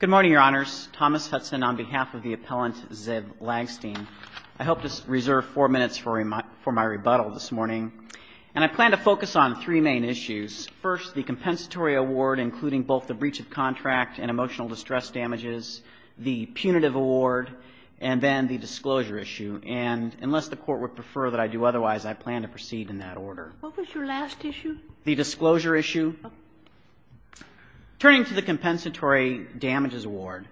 Good morning, Your Honors. Thomas Hudson on behalf of the appellant Ziv Lagstein. I hope to reserve four minutes for my rebuttal this morning, and I plan to focus on three main issues. First, the compensatory award, including both the breach of contract and emotional distress damages, the punitive award, and then the disclosure issue. And unless the Court would prefer that I do otherwise, I plan to proceed in that order. What was your last issue? The disclosure issue. Turning to the compensatory damages award,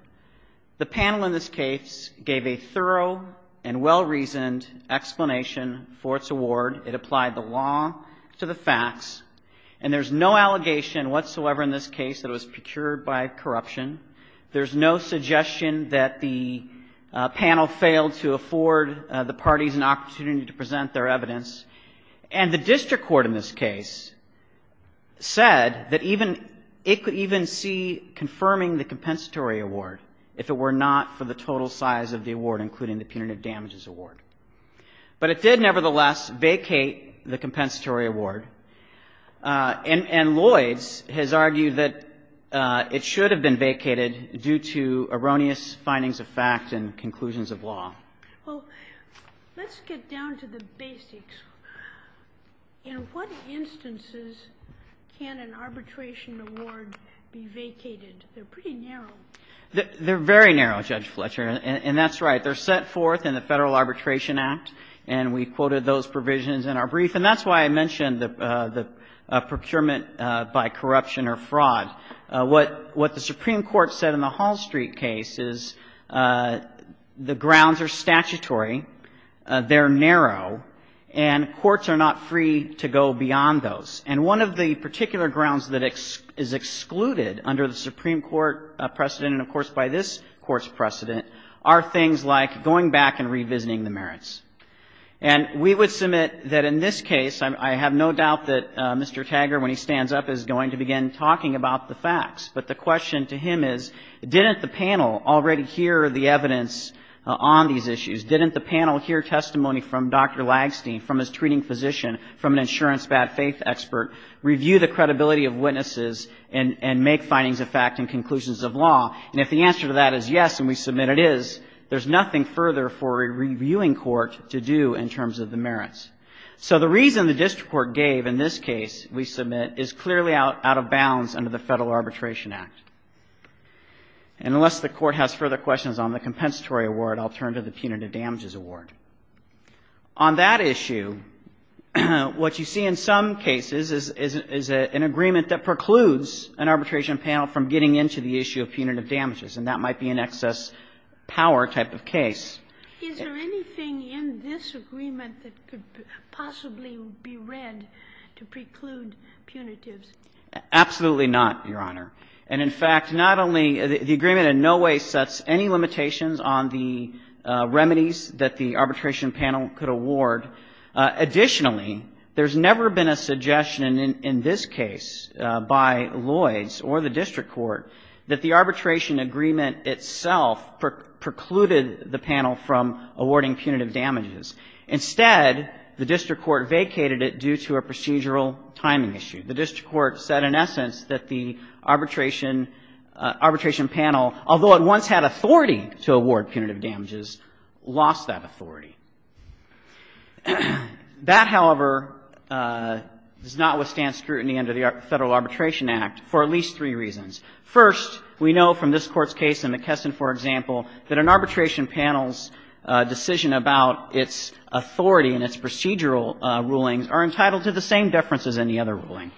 the panel in this case gave a thorough and well-reasoned explanation for its award. It applied the law to the facts, and there's no allegation whatsoever in this case that it was procured by corruption. There's no suggestion that the panel failed to afford the parties an opportunity to present their evidence. And the district court in this case said that even — it could even see confirming the compensatory award if it were not for the total size of the award, including the punitive damages award. But it did, nevertheless, vacate the compensatory award, and Lloyds has argued that it should have been vacated due to erroneous findings of fact and conclusions of law. Well, let's get down to the basics. In what instances can an arbitration award be vacated? They're pretty narrow. They're very narrow, Judge Fletcher, and that's right. They're set forth in the Federal Arbitration Act, and we quoted those provisions in our brief. And that's why I mentioned the procurement by corruption or fraud. What the Supreme Court said in the Hall Street case is the grounds are statutory, they're narrow, and courts are not free to go beyond those. And one of the particular grounds that is excluded under the Supreme Court precedent, and of course by this Court's precedent, are things like going back and revisiting the merits. And we would submit that in this case, I have no doubt that Mr. Taggart, when he stands up, is going to begin talking about the facts. But the question to him is, didn't the panel already hear the evidence on these issues? Didn't the panel hear testimony from Dr. Lagstein, from his treating physician, from an insurance bad faith expert, review the credibility of witnesses and make findings of fact and conclusions of law? And if the answer to that is yes, and we submit it is, there's nothing further for a reviewing court to do in terms of the merits. So the reason the district court gave in this case, we submit, is clearly out of bounds under the Federal Arbitration Act. And unless the Court has further questions on the compensatory award, I'll turn to the punitive damages award. On that issue, what you see in some cases is an agreement that precludes an arbitration panel from getting into the issue of punitive damages. And that might be an excess power type of case. Is there anything in this agreement that could possibly be read to preclude punitives? Absolutely not, Your Honor. And in fact, not only the agreement in no way sets any limitations on the remedies that the arbitration panel could award. Additionally, there's never been a suggestion in this case by Lloyds or the district court that the arbitration agreement itself precluded the panel from awarding punitive damages. Instead, the district court vacated it due to a procedural timing issue. The district court said in essence that the arbitration panel, although it once had authority to award punitive damages, lost that authority. That, however, does not withstand scrutiny under the Federal Arbitration Act for at least three reasons. First, we know from this Court's case in McKesson, for example, that an arbitration panel's decision about its authority and its procedural rulings are entitled to the same deference as any other ruling.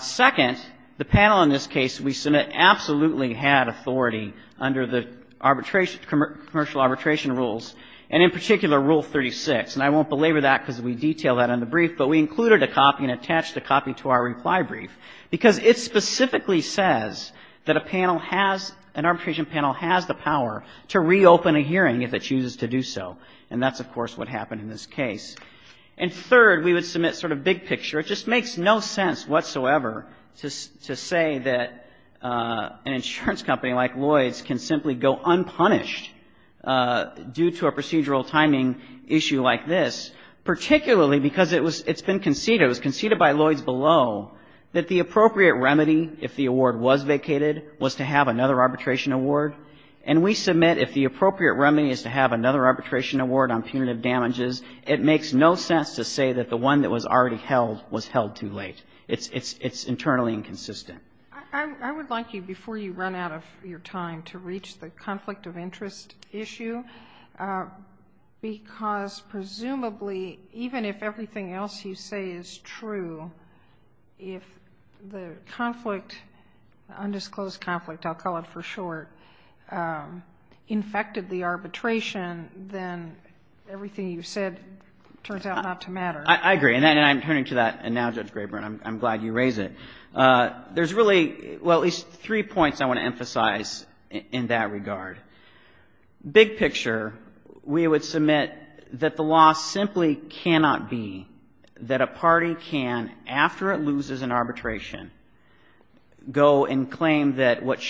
Second, the panel in this case we submit absolutely had authority under the arbitration, commercial arbitration rules, and in particular, Rule 36. And I won't belabor that because we detail that in the brief, but we included a copy and attached a copy to our reply brief, because it specifically says that a panel has, an arbitration panel has the power to reopen a hearing if it chooses to do so. And that's, of course, what happened in this case. And third, we would submit sort of the big picture, it just makes no sense whatsoever to say that an insurance company like Lloyd's can simply go unpunished due to a procedural timing issue like this, particularly because it was, it's been conceded, it was conceded by Lloyd's below that the appropriate remedy, if the award was vacated, was to have another arbitration award. And we submit if the appropriate remedy is to have another arbitration award, but it was held too late. It's internally inconsistent. I would like you, before you run out of your time, to reach the conflict of interest issue, because presumably, even if everything else you say is true, if the conflict, undisclosed conflict, I'll call it for short, infected the arbitration, then everything you've said turns out not to matter. I agree. And I'm turning to that now, Judge Graber, and I'm glad you raise it. There's really, well, at least three points I want to emphasize in that regard. Big picture, we would submit that the law simply cannot be that a party can, after it loses an arbitration, go and claim that what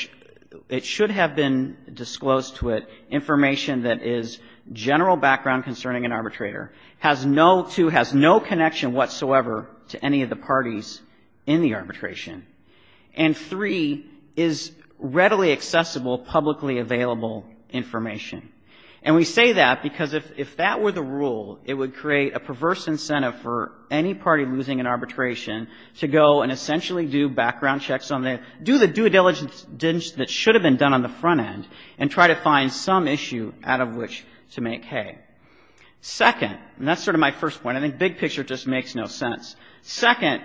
it should have been disclosed to it, information that is general background concerning an arbitrator, has no to, has no connection whatsoever to any of the parties in the arbitration. And, three, is readily accessible, publicly available information. And we say that because if that were the rule, it would create a perverse incentive for any party losing an arbitration to go and essentially do background checks on the, do the due diligence that should have been done on the front end and try to And big picture just makes no sense. Second,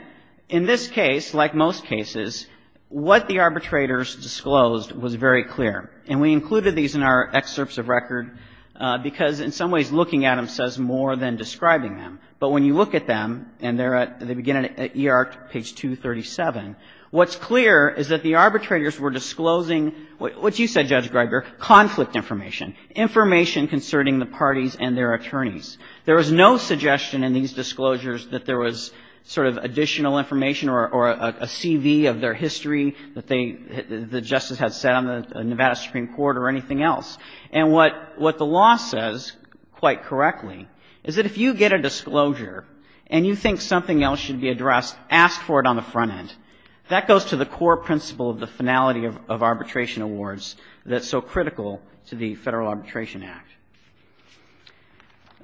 in this case, like most cases, what the arbitrators disclosed was very clear. And we included these in our excerpts of record because, in some ways, looking at them says more than describing them. But when you look at them, and they're at, they begin at E.R. Page 237, what's clear is that the arbitrators were disclosing what you said, Judge Graber, conflict information, information concerning the parties and their attorneys. There was no suggestion in these disclosures that there was sort of additional information or a CV of their history that they, that the Justice had set on the Nevada Supreme Court or anything else. And what, what the law says, quite correctly, is that if you get a disclosure and you think something else should be addressed, ask for it on the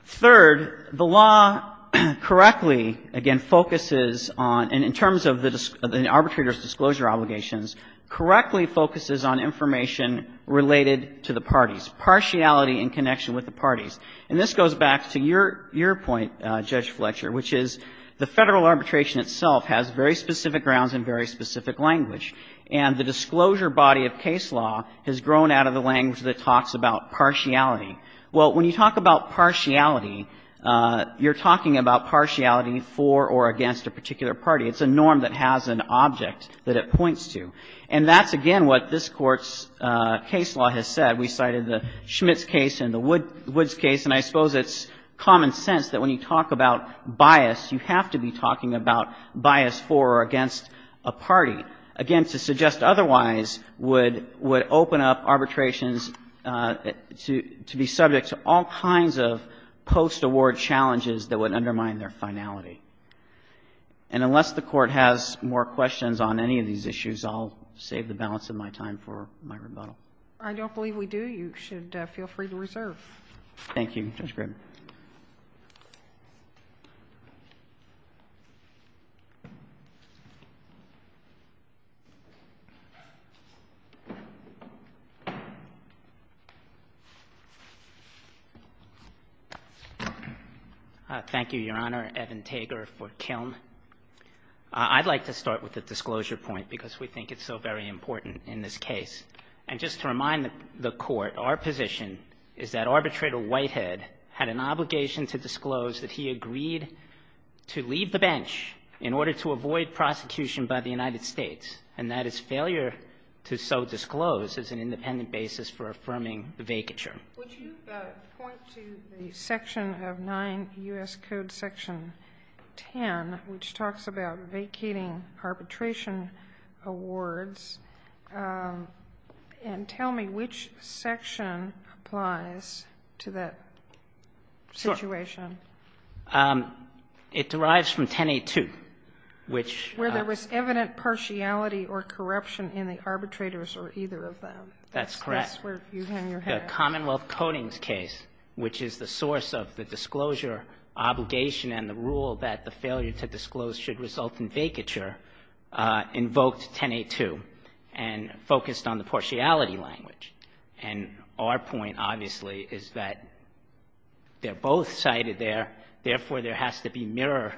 Third, the law correctly, again, focuses on, and in terms of the arbitrator's disclosure obligations, correctly focuses on information related to the parties, partiality in connection with the parties. And this goes back to your, your point, Judge Fletcher, which is the Federal arbitration itself has very specific grounds and very specific language. And the disclosure body of case law has grown out of the language that talks about partiality. Well, when you talk about partiality, you're talking about partiality for or against a particular party. It's a norm that has an object that it points to. And that's, again, what this Court's case law has said. We cited the Schmitz case and the Woods case, and I suppose it's common sense that when you talk about bias, you have to be talking about bias for or against a party. Again, to suggest otherwise would, would open up arbitrations to, to be subject to all kinds of post-award challenges that would undermine their finality. And unless the Court has more questions on any of these issues, I'll save the balance of my time for my rebuttal. I don't believe we do. You should feel free to reserve. Thank you, Judge Grim. Thank you, Your Honor. Evan Tager for Kiln. I'd like to start with the disclosure point, because we think it's so very important in this case. And just to remind the Court, our position is that Arbitrator Whitehead had a disclosure point, and obligation to disclose that he agreed to leave the bench in order to avoid prosecution by the United States. And that his failure to so disclose is an independent basis for affirming the vacature. Would you point to the section of 9 U.S. Code Section 10, which talks about vacating arbitration awards, and tell me which section applies to that situation? Sure. It derives from 1082, which ---- Where there was evident partiality or corruption in the arbitrators or either of them. That's correct. That's where you hang your hat. The Commonwealth Codings case, which is the source of the disclosure obligation and the rule that the failure to disclose should result in vacature, invoked 1082 and focused on the partiality language. And our point, obviously, is that they're both cited there. Therefore, there has to be mirror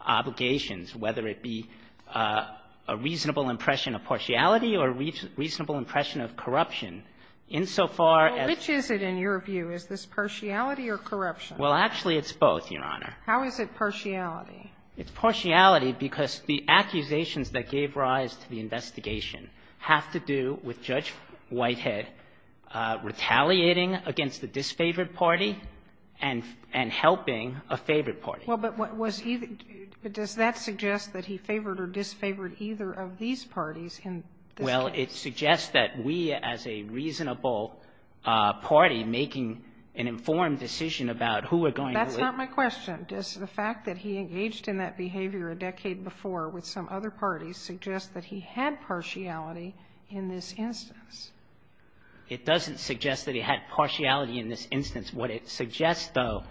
obligations, whether it be a reasonable impression of partiality or a reasonable impression of corruption. Insofar as ---- Well, which is it in your view? Is this partiality or corruption? Well, actually, it's both, Your Honor. How is it partiality? It's partiality because the accusations that gave rise to the investigation have to do with Judge Whitehead retaliating against the disfavored party and helping a favored party. Well, but what was he ---- but does that suggest that he favored or disfavored either of these parties in this case? Well, it suggests that we, as a reasonable party, making an informed decision about who we're going to ---- That's not my question. Does the fact that he engaged in that behavior a decade before with some other parties suggest that he had partiality in this instance? It doesn't suggest that he had partiality in this instance. What it suggests, though,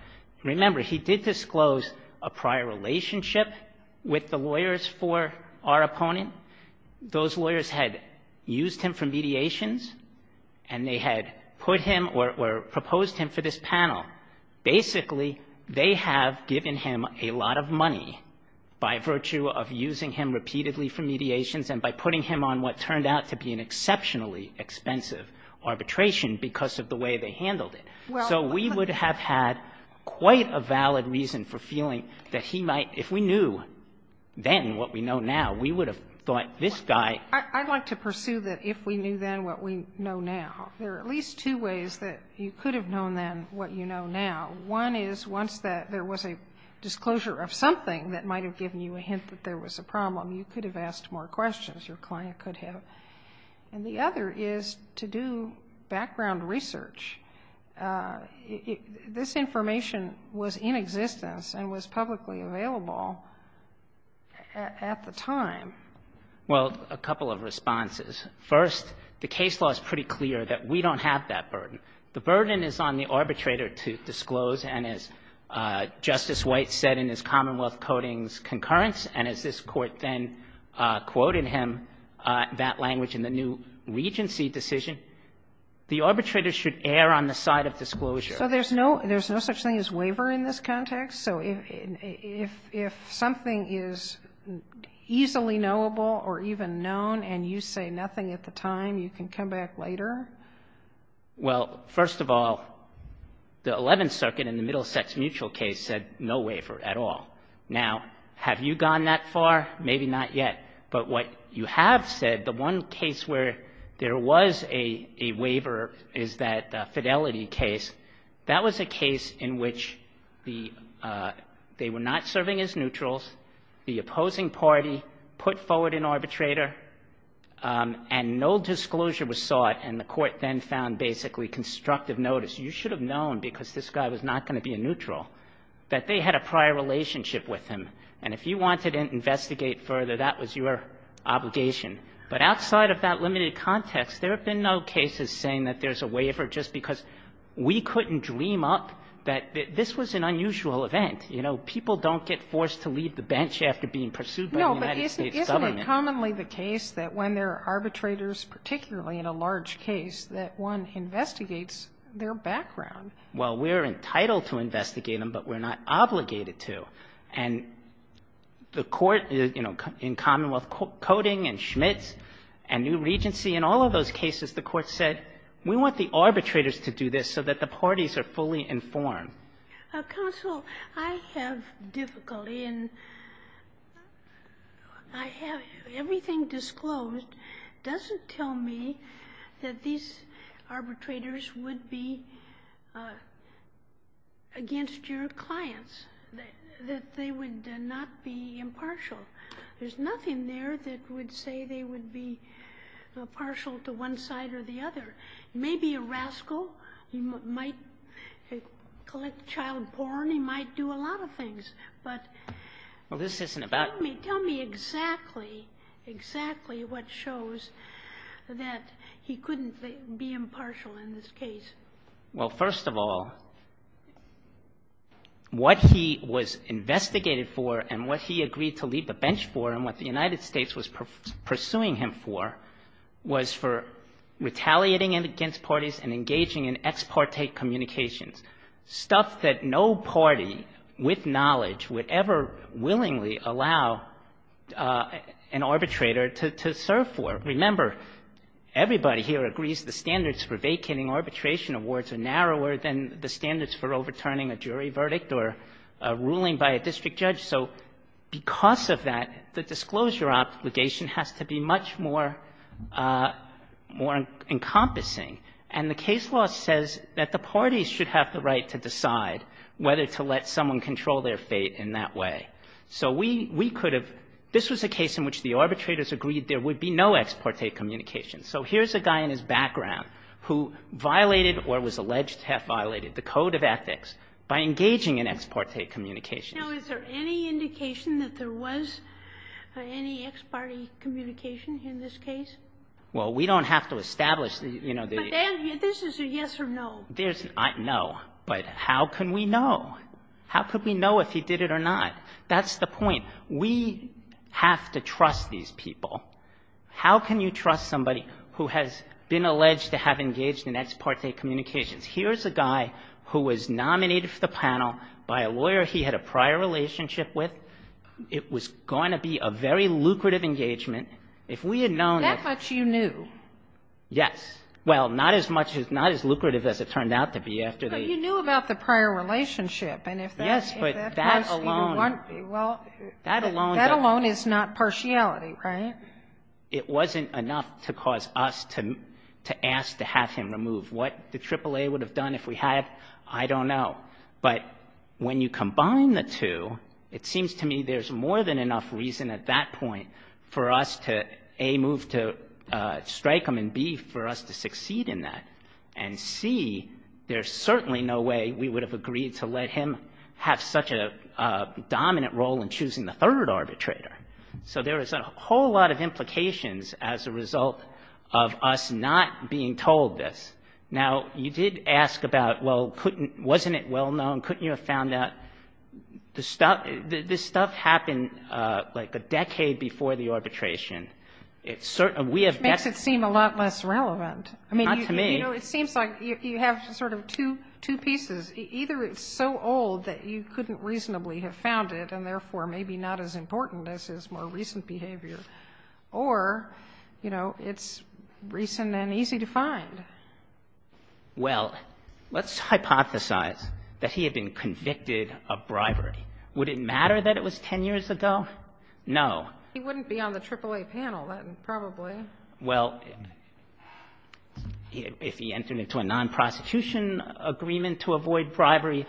remember, he did disclose a prior relationship with the lawyers for our opponent. Those lawyers had used him for mediations, and they had put him or proposed him for this panel. Basically, they have given him a lot of money by virtue of using him repeatedly for mediations and by putting him on what turned out to be an exceptionally expensive arbitration because of the way they handled it. So we would have had quite a valid reason for feeling that he might, if we knew then what we know now, we would have thought this guy ---- What you know now. One is, once there was a disclosure of something that might have given you a hint that there was a problem, you could have asked more questions your client could have. And the other is to do background research. This information was in existence and was publicly available at the time. Well, a couple of responses. First, the case law is pretty clear that we don't have that burden. The burden is on the arbitrator to disclose. And as Justice White said in his Commonwealth Codings Concurrence, and as this Court then quoted him, that language in the new Regency decision, the arbitrator should err on the side of disclosure. So there's no such thing as waiver in this context? So if something is easily knowable or even known and you say nothing at the time, you can come back later? Well, first of all, the Eleventh Circuit in the Middlesex Mutual case said no waiver at all. Now, have you gone that far? Maybe not yet. But what you have said, the one case where there was a waiver is that Fidelity case. That was a case in which they were not serving as neutrals, the opposing party put forward an arbitrator, and no court then found basically constructive notice. You should have known, because this guy was not going to be a neutral, that they had a prior relationship with him. And if you wanted to investigate further, that was your obligation. But outside of that limited context, there have been no cases saying that there's a waiver just because we couldn't dream up that this was an unusual event. You know, people don't get forced to leave the bench after being pursued by the United States government. But isn't it commonly the case that when there are arbitrators, particularly in a large case, that one investigates their background? Well, we're entitled to investigate them, but we're not obligated to. And the Court in, you know, in Commonwealth Coding and Schmitz and New Regency, in all of those cases, the Court said we want the arbitrators to do this so that the parties are fully informed. Counsel, I have difficulty, and I have everything disclosed. It doesn't tell me that these arbitrators would be against your clients, that they would not be impartial. There's nothing there that would say they would be partial to one side or the other. He may be a rascal. He might collect child porn. He might do a lot of things. But Well, this isn't about Tell me exactly, exactly what shows that he couldn't be impartial in this case. Well, first of all, what he was investigated for and what he agreed to leave the bench for and what the United States was pursuing him for was for retaliating against parties and engaging in ex parte communications, stuff that no party with knowledge would ever willingly allow an arbitrator to serve for. Remember, everybody here agrees the standards for vacating arbitration awards are narrower than the standards for overturning a jury verdict or a ruling by a district judge. So because of that, the disclosure obligation has to be much more, more encompassing. And the case law says that the parties should have the right to decide whether to let someone control their fate in that way. So we could have this was a case in which the arbitrators agreed there would be no ex parte communications. So here's a guy in his background who violated or was alleged to have violated the code of ethics by engaging in ex parte communications. Now, is there any indication that there was any ex parte communication in this case? Well, we don't have to establish, you know, the But this is a yes or no. There's no, but how can we know? How could we know if he did it or not? That's the point. We have to trust these people. How can you trust somebody who has been alleged to have engaged in ex parte communications? Here's a guy who was nominated for the panel by a lawyer he had a prior relationship with. It was going to be a very lucrative engagement. If we had known that That much you knew. Yes. Well, not as much as not as lucrative as it turned out to be after the But you knew about the prior relationship. And if that Yes, but that alone Well, that alone That alone is not partiality, right? It wasn't enough to cause us to ask to have him removed. What the AAA would have done if we had, I don't know. But when you combine the two, it seems to me there's more than enough reason at that point for us to, A, move to strike him and, B, for us to succeed in that. And, C, there's certainly no way we would have agreed to let him have such a dominant role in choosing the third arbitrator. So there is a whole lot of implications as a result of us not being told this. Now, you did ask about, well, couldn't wasn't it well known? Couldn't you have found out the stuff? This stuff happened like a decade before the arbitration. It's certain we have. Makes it seem a lot less relevant. I mean, to me, it seems like you have sort of two two pieces. Either it's so old that you couldn't reasonably have found it and therefore maybe not as important as his more recent behavior or, you know, it's recent and easy to find. Well, let's hypothesize that he had been convicted of bribery. Would it matter that it was 10 years ago? No. He wouldn't be on the AAA panel, probably. Well, if he entered into a nonprosecution agreement to avoid bribery,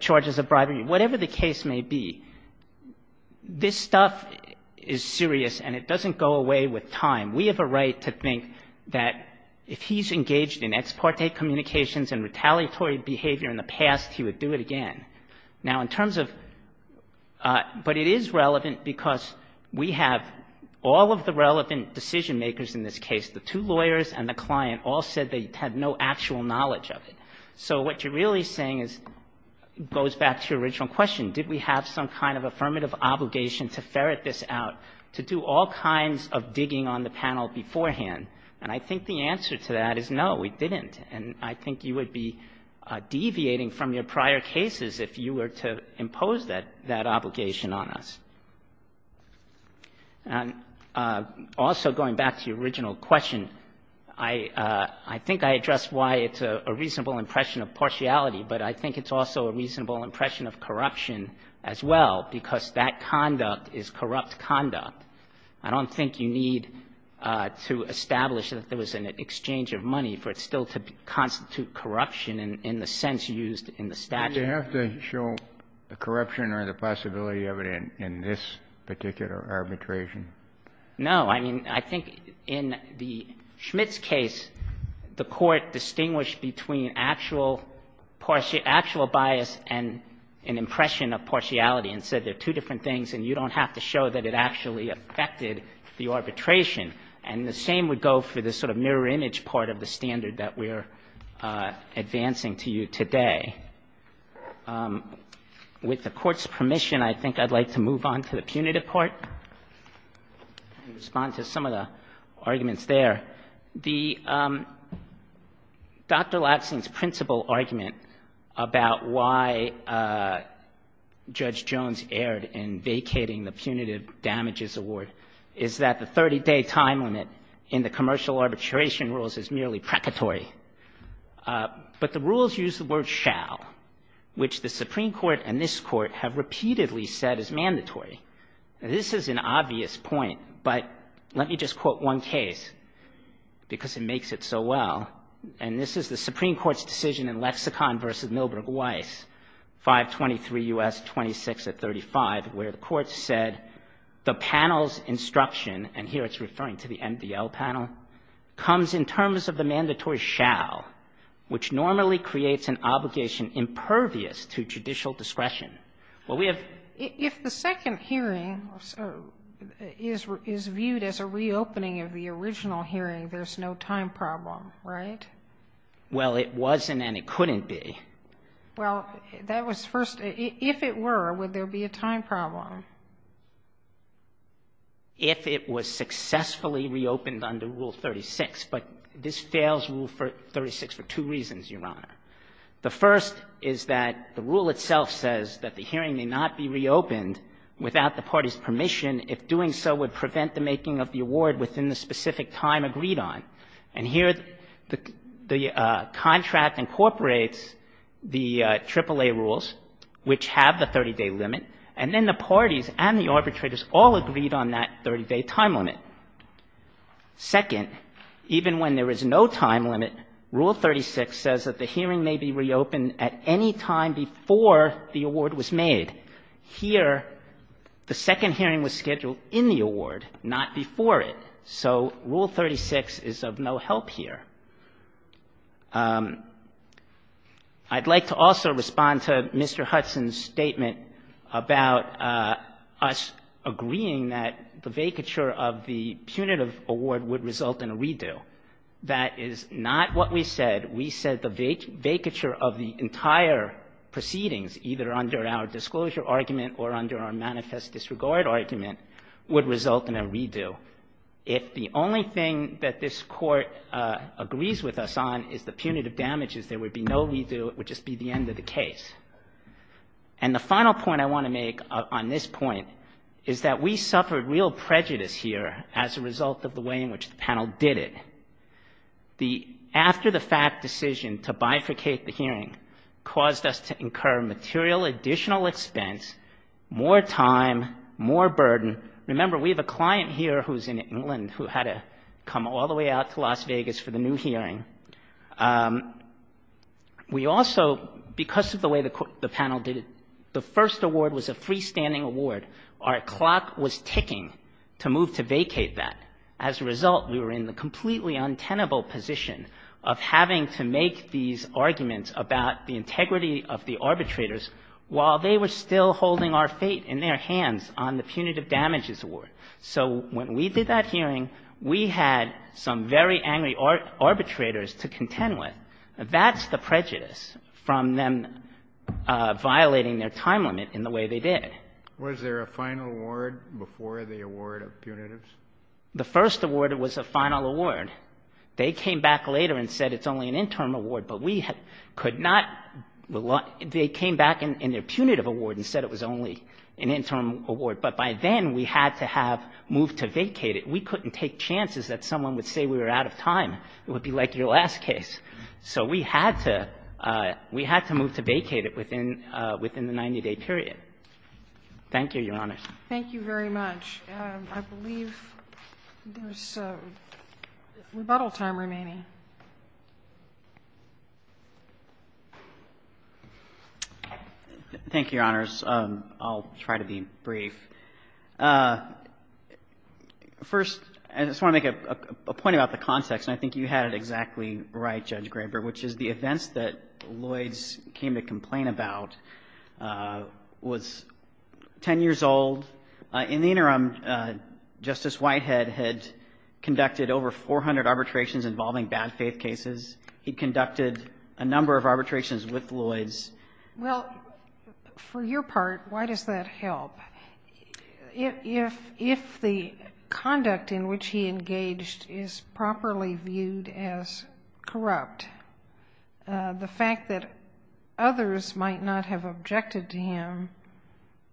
charges of bribery, whatever the case may be, this stuff is serious and it doesn't go away with time. We have a right to think that if he's engaged in ex parte communications and retaliatory behavior in the past, he would do it again. Now, in terms of but it is relevant because we have all of the relevant decision makers in this case, the two lawyers and the client all said they had no actual knowledge of it. So what you're really saying is goes back to your original question. Did we have some kind of affirmative obligation to ferret this out, to do all kinds of digging on the panel beforehand? And I think the answer to that is no, we didn't. And I think you would be deviating from your prior cases if you were to impose that obligation on us. And also going back to your original question, I think I addressed why it's a reasonable impression of partiality, but I think it's also a reasonable impression of corruption as well, because that conduct is corrupt conduct. I don't think you need to establish that there was an exchange of money for it still to constitute corruption in the sense used in the statute. You have to show the corruption or the possibility of it in this particular arbitration. No. I mean, I think in the Schmitt's case, the court distinguished between actual bias and an impression of partiality and said they're two different things and you don't have to show that it actually affected the arbitration. And the same would go for this sort of mirror image part of the standard that we're advancing to you today. With the court's permission, I think I'd like to move on to the punitive part and respond to some of the arguments there. The Dr. Latson's principal argument about why Judge Jones erred in vacating the punitive damages award is that the 30-day time limit in the commercial arbitration rules is merely precatory, but the rules use the word shall, which the Supreme Court's decision in Lexicon v. Milberg Weiss, 523 U.S. 2635, where the court said the panel's instruction, and here it's referring to the MDL panel, comes in terms of the mandatory shall, which normally creates an obligation impervious to judicial discretion. Well, we have to be careful about that. Sotomayor, if the second hearing is viewed as a reopening of the original hearing, there's no time problem, right? Well, it wasn't and it couldn't be. Well, that was first. If it were, would there be a time problem? If it was successfully reopened under Rule 36, but this fails Rule 36 for two reasons, Your Honor. The first is that the rule itself says that the hearing may not be reopened without the party's permission if doing so would prevent the making of the award within the specific time agreed on. And here the contract incorporates the AAA rules, which have the 30-day limit, and then the parties and the arbitrators all agreed on that 30-day time limit. Second, even when there is no time limit, Rule 36 says that the hearing may be reopened at any time before the award was made. Here, the second hearing was scheduled in the award, not before it. So Rule 36 is of no help here. I'd like to also respond to Mr. Hudson's statement about us agreeing that the vacature of the punitive award would result in a redo. That is not what we said. We said the vacature of the entire proceedings, either under our disclosure argument or under our manifest disregard argument, would result in a redo. If the only thing that this Court agrees with us on is the punitive damages, there would be no redo. It would just be the end of the case. And the final point I want to make on this point is that we suffered real prejudice here as a result of the way in which the panel did it. The after-the-fact decision to bifurcate the hearing caused us to incur material additional expense, more time, more burden. Remember, we have a client here who's in England who had to come all the way out to Las Vegas for the new hearing. We also, because of the way the panel did it, the first award was a freestanding award. Our clock was ticking to move to vacate that. As a result, we were in the completely untenable position of having to make these arguments about the integrity of the arbitrators while they were still holding our fate in their hands on the punitive damages award. So when we did that hearing, we had some very angry arbitrators to contend with. That's the prejudice from them violating their time limit in the way they did. Was there a final award before the award of punitives? The first award was a final award. They came back later and said it's only an interim award, but we could not rely they came back in their punitive award and said it was only an interim award. But by then, we had to have moved to vacate it. We couldn't take chances that someone would say we were out of time. It would be like your last case. So we had to move to vacate it within the 90-day period. Thank you, Your Honor. Thank you very much. I believe there is rebuttal time remaining. Thank you, Your Honors. I'll try to be brief. First, I just want to make a point about the context, and I think you had it exactly right, Judge Graber, which is the events that Lloyds came to complain about was 10 years old. In the interim, Justice Whitehead had conducted over 400 arbitrations involving bad faith cases. He conducted a number of arbitrations with Lloyds. Well, for your part, why does that help? If the conduct in which he engaged is properly viewed as corrupt, the fact that others might not have objected to him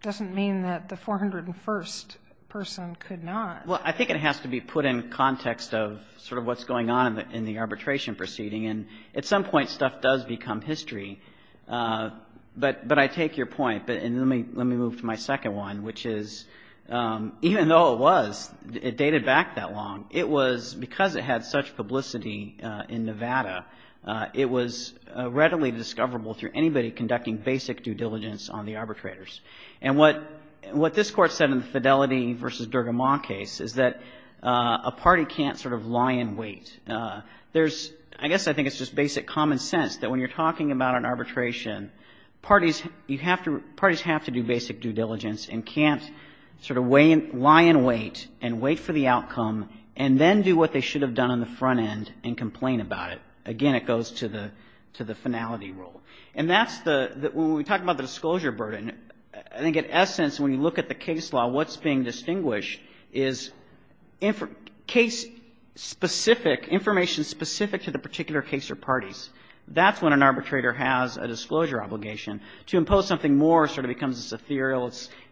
doesn't mean that the 401st person could not. Well, I think it has to be put in context of sort of what's going on in the arbitration proceeding. And at some point, stuff does become history. But I take your point, and let me move to my second one, which is even though it was, it dated back that long, it was because it had such publicity in Nevada, it was readily discoverable through anybody conducting basic due diligence on the arbitrators. And what this Court said in the Fidelity v. Dergamont case is that a party can't sort of lie in wait. There's, I guess I think it's just basic common sense that when you're talking about an arbitration, parties have to do basic due diligence and can't sort of lie in wait and wait for the outcome and then do what they should have done on the front end and complain about it. Again, it goes to the finality rule. And that's the, when we talk about the disclosure burden, I think in essence, when you look at the case law, what's being distinguished is case-specific, information specific to the particular case or parties. That's when an arbitrator has a disclosure obligation. To impose something more sort of becomes ethereal.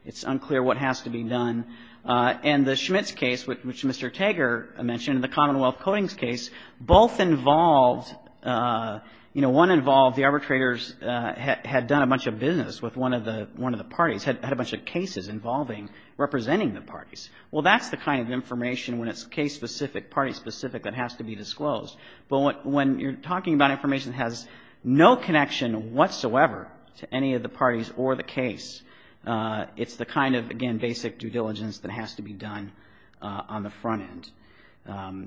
It's unclear what has to be done. And the Schmitz case, which Mr. Tager mentioned, the Commonwealth Codings case, both involved, you know, one involved the arbitrators had done a bunch of business with one of the parties, had a bunch of cases involving representing the parties. Well, that's the kind of information when it's case-specific, party-specific, that has to be disclosed. But when you're talking about information that has no connection whatsoever to any of the parties or the case, it's the kind of, again, basic due diligence that has to be done on the front end.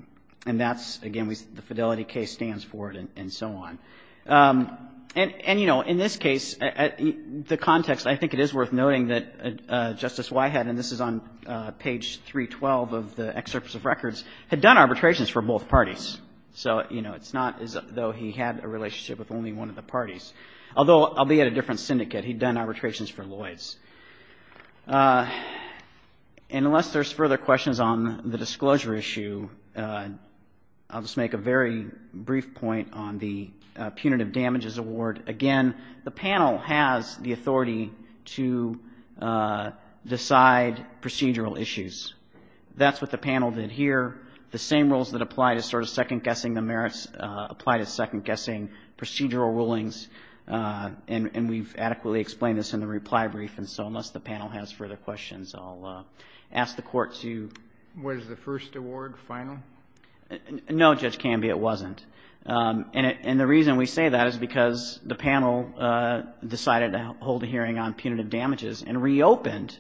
And that's, again, the Fidelity case stands for it and so on. And, you know, in this case, the context, I think it is worth noting that Justice Wyhatt, and this is on page 312 of the excerpts of records, had done arbitrations for both parties. So, you know, it's not as though he had a relationship with only one of the parties. Although, albeit a different syndicate, he'd done arbitrations for Lloyds. And unless there's further questions on the disclosure issue, I'll just make a very brief point on the punitive damages award. Again, the panel has the authority to decide procedural issues. That's what the panel did here. The same rules that apply to sort of second-guessing the merits apply to second-guessing procedural rulings. And we've adequately explained this in the reply brief. And so, unless the panel has further questions, I'll ask the Court to. Was the first award final? No, Judge Canby, it wasn't. And the reason we say that is because the panel decided to hold a hearing on punitive damages and reopened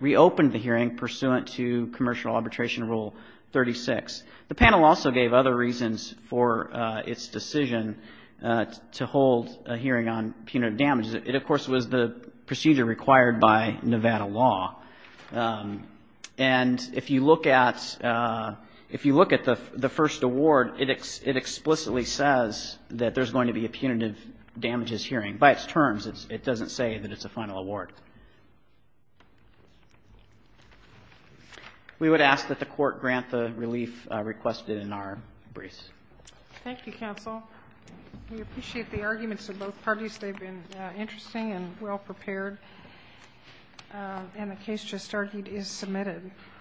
the hearing pursuant to Commercial Arbitration Rule 36. The panel also gave other reasons for its decision to hold a hearing on punitive damages. It, of course, was the procedure required by Nevada law. And if you look at the first award, it explicitly says that there's going to be a punitive damages hearing. By its terms, it doesn't say that it's a final award. We would ask that the Court grant the relief requested in our briefs. Thank you, counsel. We appreciate the arguments of both parties. They've been interesting and well-prepared. And the case just argued is submitted.